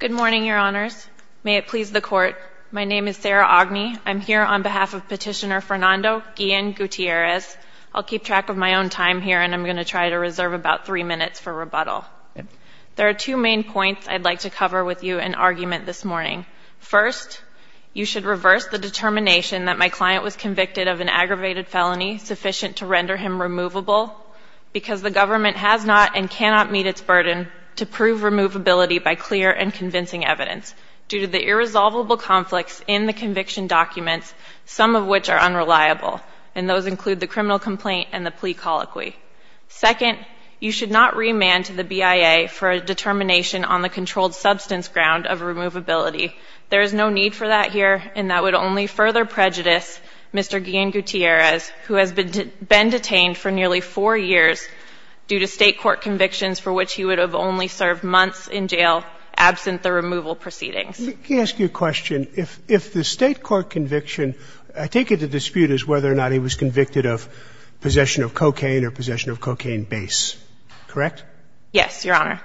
Good morning, Your Honors. May it please the Court, my name is Sarah Ogney. I'm here on behalf of Petitioner Fernando Guillen-Gutierrez. I'll keep track of my own time here and I'm going to try to reserve about three minutes for rebuttal. There are two main points I'd like to cover with you in argument this morning. First, you should reverse the determination that my client was convicted of an aggravated felony sufficient to render him removable because the government has not and cannot meet its burden to prove removability by clear and convincing evidence due to the irresolvable conflicts in the conviction documents, some of which are unreliable, and those include the criminal complaint and the plea colloquy. Second, you should not remand to the BIA for a determination on the controlled substance ground of removability. There is no need for that here and that would only further prejudice Mr. Guillen-Gutierrez, who has been detained for nearly four years due to State court convictions for which he would have only served months in jail absent the removal proceedings. Let me ask you a question. If the State court conviction, I take it the dispute is whether or not he was convicted of possession of cocaine or possession of cocaine base, correct? Yes, Your Honor.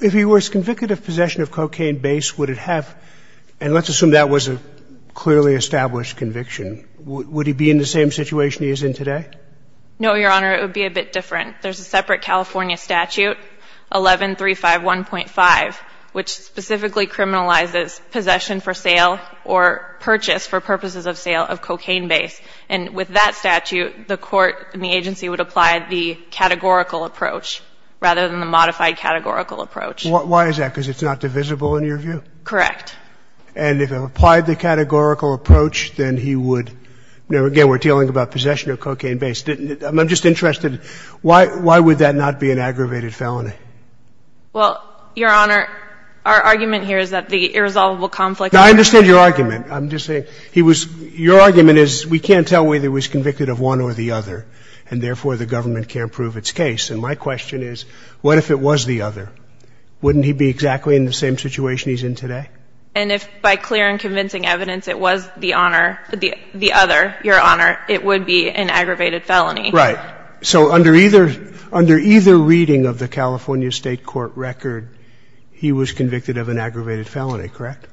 If he was convicted of possession of cocaine base, would it have, and let's assume that was a clearly established conviction, would he be in the same situation he is in today? No, Your Honor, it would be a bit different. There's a separate California statute, 11351.5, which specifically criminalizes possession for sale or purchase for purposes of sale of cocaine base. And with that statute, the court and the agency would apply the categorical approach rather than the modified categorical approach. Why is that? Because it's not divisible in your view? Correct. And if it applied the categorical approach, then he would, you know, again, we're dealing about possession of cocaine base, didn't it? I'm just interested, why would that not be an aggravated felony? Well, Your Honor, our argument here is that the irresolvable conflict of interest No, I understand your argument. I'm just saying, he was, your argument is we can't tell whether he was convicted of one or the other, and therefore the government can't prove its case. And my question is, what if it was the other? Wouldn't he be exactly in the same situation he's in today? And if by clear and convincing evidence it was the honor, the other, Your Honor, it would be an aggravated felony. Right. So under either, under either reading of the California State court record, he was convicted of an aggravated felony, correct?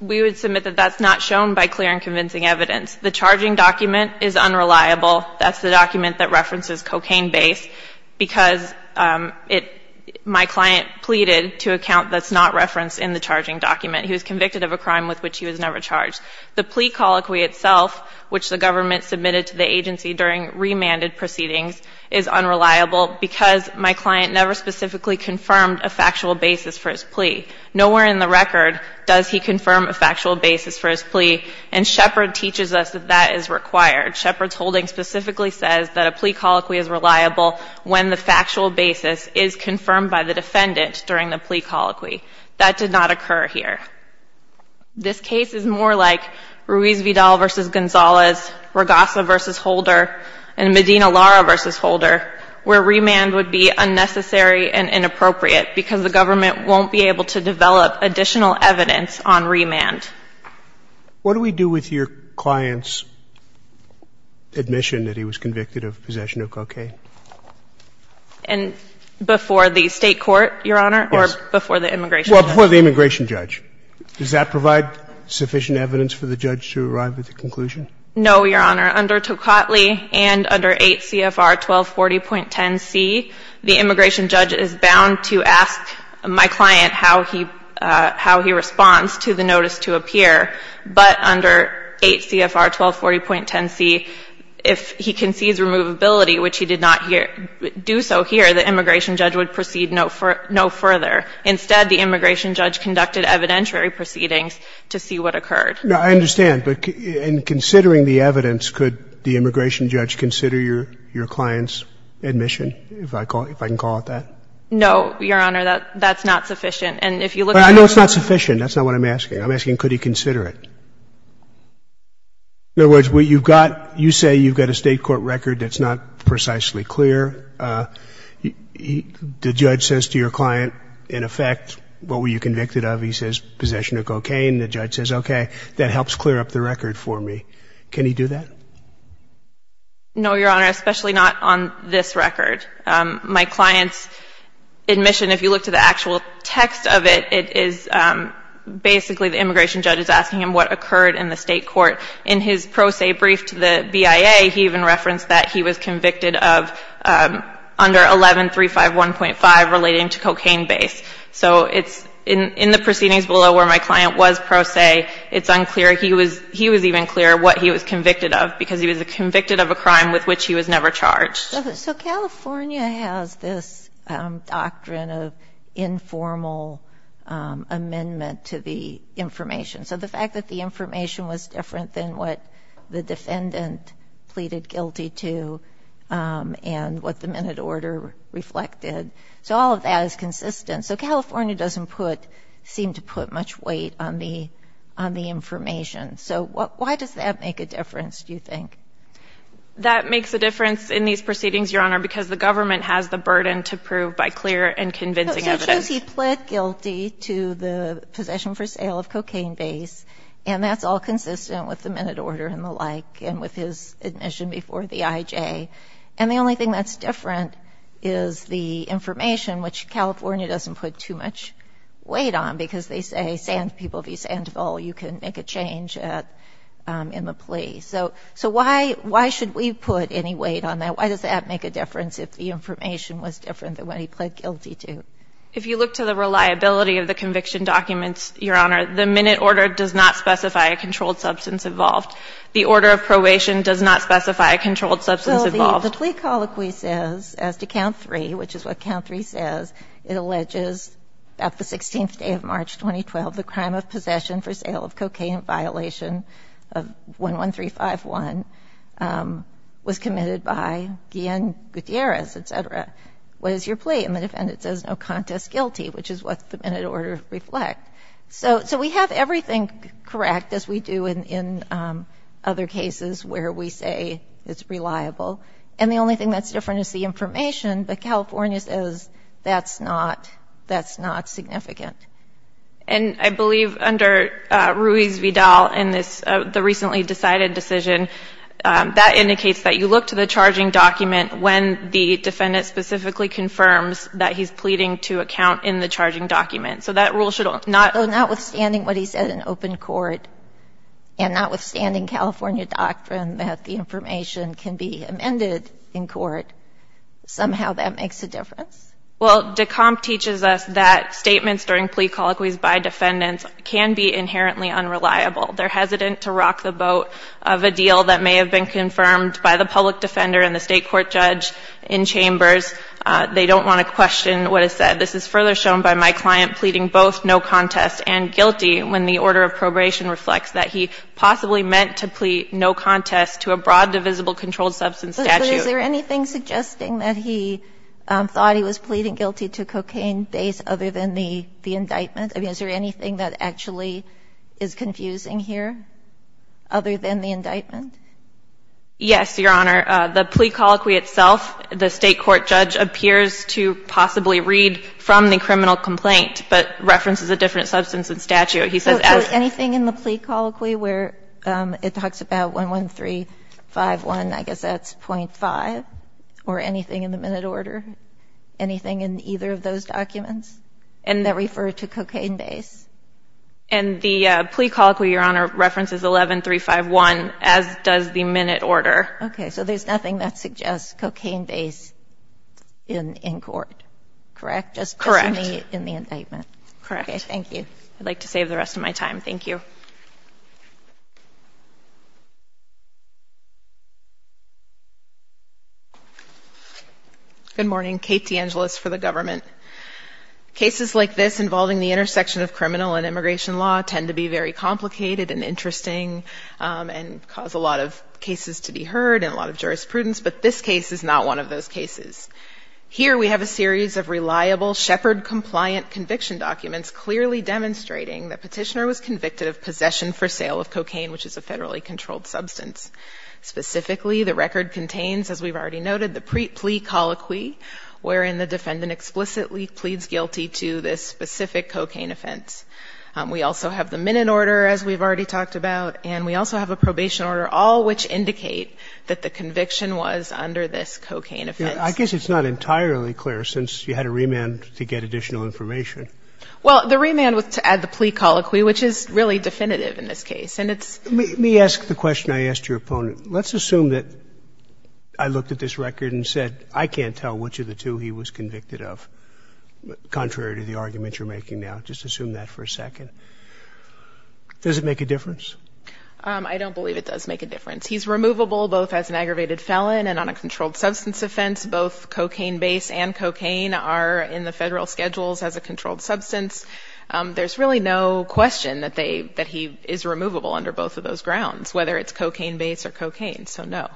We would submit that that's not shown by clear and convincing evidence. The charging document is unreliable. That's the document that references cocaine base, because it, my client pleaded to a count that's not referenced in the charging document. He was convicted of a crime with which he was never charged. The plea colloquy itself, which the government submitted to the agency during remanded proceedings, is unreliable because my client never specifically confirmed a factual basis for his plea. Nowhere in the record does he confirm a factual basis for his plea, and Shepard teaches us that that is required. Shepard's holding specifically says that a plea basis is confirmed by the defendant during the plea colloquy. That did not occur here. This case is more like Ruiz Vidal v. Gonzalez, Regasa v. Holder, and Medina Lara v. Holder, where remand would be unnecessary and inappropriate because the government won't be able to develop additional evidence on remand. What do we do with your client's admission that he was convicted of possession of cocaine? And before the State court, Your Honor, or before the immigration judge? Well, before the immigration judge. Does that provide sufficient evidence for the judge to arrive at the conclusion? No, Your Honor. Under Tocatli and under 8 CFR 1240.10c, the immigration judge is bound to ask my client how he responds to the notice to appear. But under 8 CFR 1240.10c, if he concedes removability, which he did not do, he is bound to ask my client how he responds to the notice to appear. But if he did not do so here, the immigration judge would proceed no further. Instead, the immigration judge conducted evidentiary proceedings to see what occurred. I understand. But in considering the evidence, could the immigration judge consider your client's admission, if I can call it that? No, Your Honor. That's not sufficient. But I know it's not sufficient. That's not what I'm asking. I'm asking, could he consider it? In other words, you say you've got a State court record that's not precisely clear. The judge says to your client, in effect, what were you convicted of? He says possession of cocaine. The judge says, okay, that helps clear up the record for me. Can he do that? No, Your Honor, especially not on this record. My client's admission, if you look to the actual text of it, it is basically the immigration judge is asking him what occurred in the State court. In his pro se brief to the BIA, he even said he was convicted of under 11351.5 relating to cocaine base. So it's in the proceedings below where my client was pro se, it's unclear. He was even clearer what he was convicted of, because he was convicted of a crime with which he was never charged. So California has this doctrine of informal amendment to the information. So the fact that the information was different than what the defendant pleaded guilty to and what the minute order reflected, so all of that is consistent. So California doesn't seem to put much weight on the information. So why does that make a difference, do you think? That makes a difference in these proceedings, Your Honor, because the government has the burden to prove by clear and convincing evidence. So it shows he pleaded guilty to the possession for sale of cocaine base, and that's all consistent with the minute order and the like, and with his admission before the IJ. And the only thing that's different is the information, which California doesn't put too much weight on, because they say sand people v. Sandoval, you can make a change in the plea. So why should we put any weight on that? Why does that make a difference if the information was different than what he pled guilty to? If you look to the reliability of the conviction documents, Your Honor, the plea colloquy does not specify a controlled substance involved. The order of probation does not specify a controlled substance involved. Well, the plea colloquy says, as to count three, which is what count three says, it alleges that the 16th day of March 2012, the crime of possession for sale of cocaine in violation of 11351 was committed by Guillen Gutierrez, et cetera. What is your plea? And the defendant says no contest guilty, which is what the minute order reflects. So we have everything correct, as we do in other cases where we say it's reliable. And the only thing that's different is the information, but California says that's not significant. And I believe under Ruiz-Vidal in the recently decided decision, that indicates that you look to the charging document when the defendant specifically confirms that he's pleading to a count in the charging document. So that rule should not... So notwithstanding what he said in open court, and notwithstanding California doctrine that the information can be amended in court, somehow that makes a difference? Well, DECOMP teaches us that statements during plea colloquies by defendants can be inherently unreliable. They're hesitant to rock the boat of a deal that may have been confirmed by the public defender and the state court judge in chambers. They don't want to question what is said. This is further shown by my client. Both no contest and guilty when the order of probation reflects that he possibly meant to plea no contest to a broad divisible controlled substance statute. But is there anything suggesting that he thought he was pleading guilty to cocaine based other than the indictment? I mean, is there anything that actually is confusing here other than the indictment? Yes, Your Honor. The plea colloquy itself, the state court judge appears to possibly read from the criminal complaint. But references a different substance and statute. So anything in the plea colloquy where it talks about 11351, I guess that's .5? Or anything in the minute order? Anything in either of those documents that refer to cocaine base? And the plea colloquy, Your Honor, references 11351, as does the minute order. Okay. So there's nothing that suggests cocaine base in court, correct? Correct. Okay. Thank you. I'd like to save the rest of my time. Thank you. Good morning. Kate DeAngelis for the government. Cases like this involving the intersection of criminal and immigration law tend to be very complicated and interesting and cause a lot of cases to be heard and a lot of jurisprudence. But this case is not one of those cases. Here we have a series of reliable Shepard-compliant conviction documents clearly demonstrating the petitioner was convicted of possession for sale of cocaine, which is a federally controlled substance. Specifically, the record contains, as we've already noted, the plea colloquy, wherein the defendant explicitly pleads guilty to this specific cocaine offense. We also have the minute order, as we've already talked about. And we also have a probation order, all which indicate that the defendant was convicted of possession for sale of cocaine. It's not entirely clear, since you had a remand to get additional information. Well, the remand was to add the plea colloquy, which is really definitive in this case. Let me ask the question I asked your opponent. Let's assume that I looked at this record and said, I can't tell which of the two he was convicted of, contrary to the argument you're making now. Just assume that for a second. Does it make a difference? I don't believe it does make a difference. He's removable both as an aggravated felon and on a controlled substance offense. Both cocaine base and cocaine are in the federal schedules as a controlled substance. There's really no question that he is removable under both of those grounds, whether it's cocaine base or cocaine. So, no,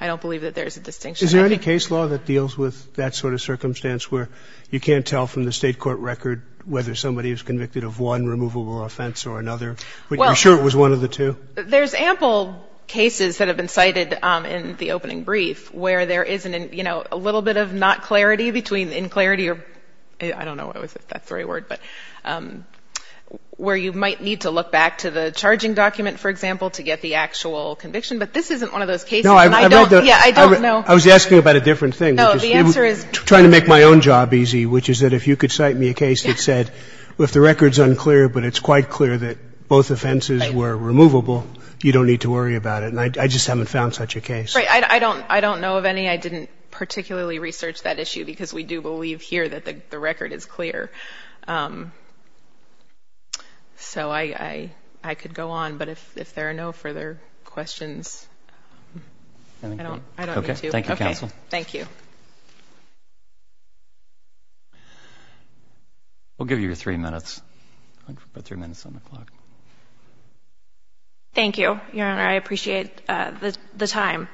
I don't believe that there's a distinction. Is there any case law that deals with that sort of circumstance where you can't tell from the state court record whether somebody is convicted of one removable offense or another? Are you sure it was one of the two? Well, there's ample cases that have been cited in the opening brief where there is a little bit of not clarity between in-clarity or, I don't know what was it, that three word, where you might need to look back to the charging document, for example, to get the actual conviction. But this isn't one of those cases. I was asking about a different thing. I'm trying to make my own job easy, which is that if you could cite me a case that said if the record is unclear but it's quite clear that both offenses were removable, you don't need to worry about it. I just haven't found such a case. I don't know of any. I didn't particularly research that issue because we do believe here that the record is clear. So I could go on, but if there are no further questions, I don't need to. We'll give you your three minutes. Thank you, Your Honor. I appreciate the time.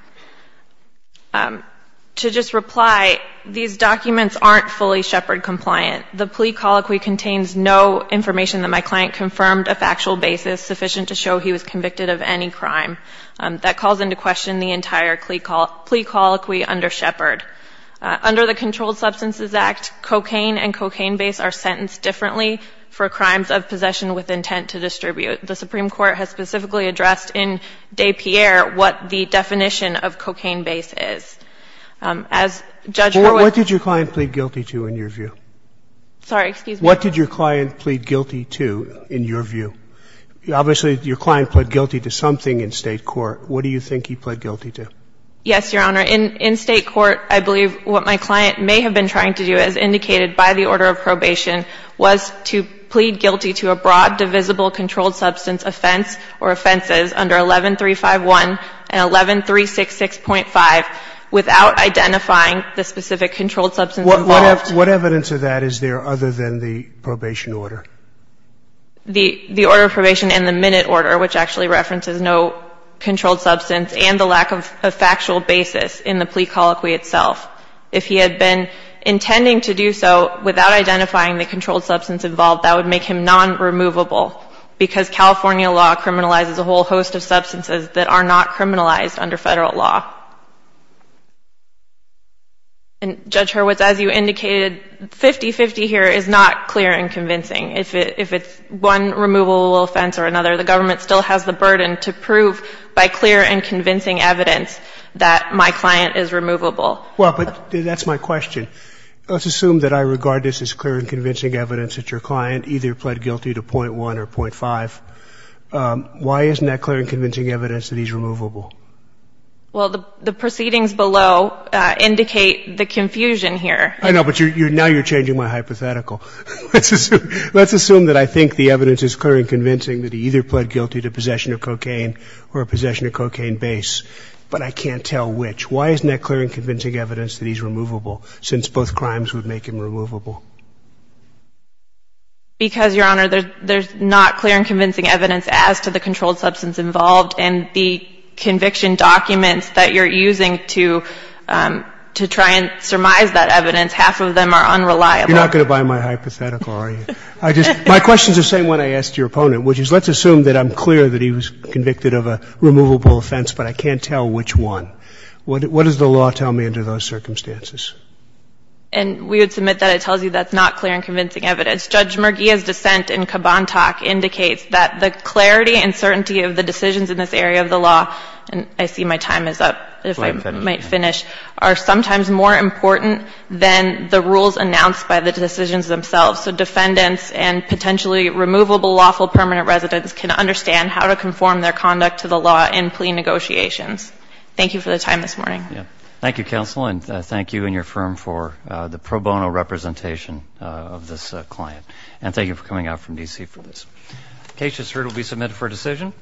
To just reply, these documents aren't fully Shepard-compliant. The plea colloquy contains no information that my client confirmed a factual basis sufficient to show he was involved in the crime. That calls into question the entire plea colloquy under Shepard. Under the Controlled Substances Act, cocaine and cocaine base are sentenced differently for crimes of possession with intent to distribute. The Supreme Court has specifically addressed in DePierre what the definition of cocaine base is. What did your client plead guilty to in your view? Sorry, excuse me? What did your client plead guilty to in your view? Obviously, your client pled guilty to something in state court. What do you think he pled guilty to? Yes, Your Honor. In state court, I believe what my client may have been trying to do, as indicated by the order of probation, was to plead guilty to a broad divisible controlled substance offense or offenses under 11351 and 11366.5 without identifying the specific controlled substance involved. What evidence of that is there other than the probation order? The order of probation and the minute order, which actually references no controlled substance and the lack of factual basis in the plea colloquy itself. If he had been intending to do so without identifying the controlled substance involved, that would make him non-removable because California law criminalizes a whole host of substances that are not criminalized under federal law. Judge Hurwitz, as you indicated, 50-50 here is not clear and convincing. If it's one removable offense or another, the government still has the burden to prove by clear and convincing evidence that my client is removable. Well, but that's my question. Let's assume that I regard this as clear and convincing evidence that your client either pled guilty to .1 or .5. Why isn't that clear and convincing evidence that he's removable? Well, the proceedings below indicate the confusion here. I know, but now you're changing my hypothetical. Let's assume that I think the evidence is clear and convincing that he either pled guilty to possession of cocaine or a possession of cocaine base, but I can't tell which. Why isn't that clear and convincing evidence that he's removable since both crimes would make him removable? Because, Your Honor, there's not clear and convincing evidence as to the controlled substance involved, and the conviction documents that you're using to try and surmise that evidence, half of them are unreliable. You're not going to buy my hypothetical, are you? My questions are the same one I asked your opponent, which is let's assume that I'm clear that he was convicted of a removable offense, but I can't tell which one. What does the law tell me under those circumstances? And we would submit that it tells you that's not clear and convincing evidence. Judge Merguia's dissent in Kaban Talk indicates that the clarity and certainty of the decisions in this area of the law, and I see my time is up, if I might finish, are sometimes more important than the rules announced by the decisions themselves. So defendants and potentially removable lawful permanent residents can understand how to conform their conduct to the law in plea negotiations. Thank you for the time this morning. Thank you, counsel, and thank you and your firm for the pro bono representation of this client. And thank you for coming out from D.C. for this. Case just heard will be submitted for decision.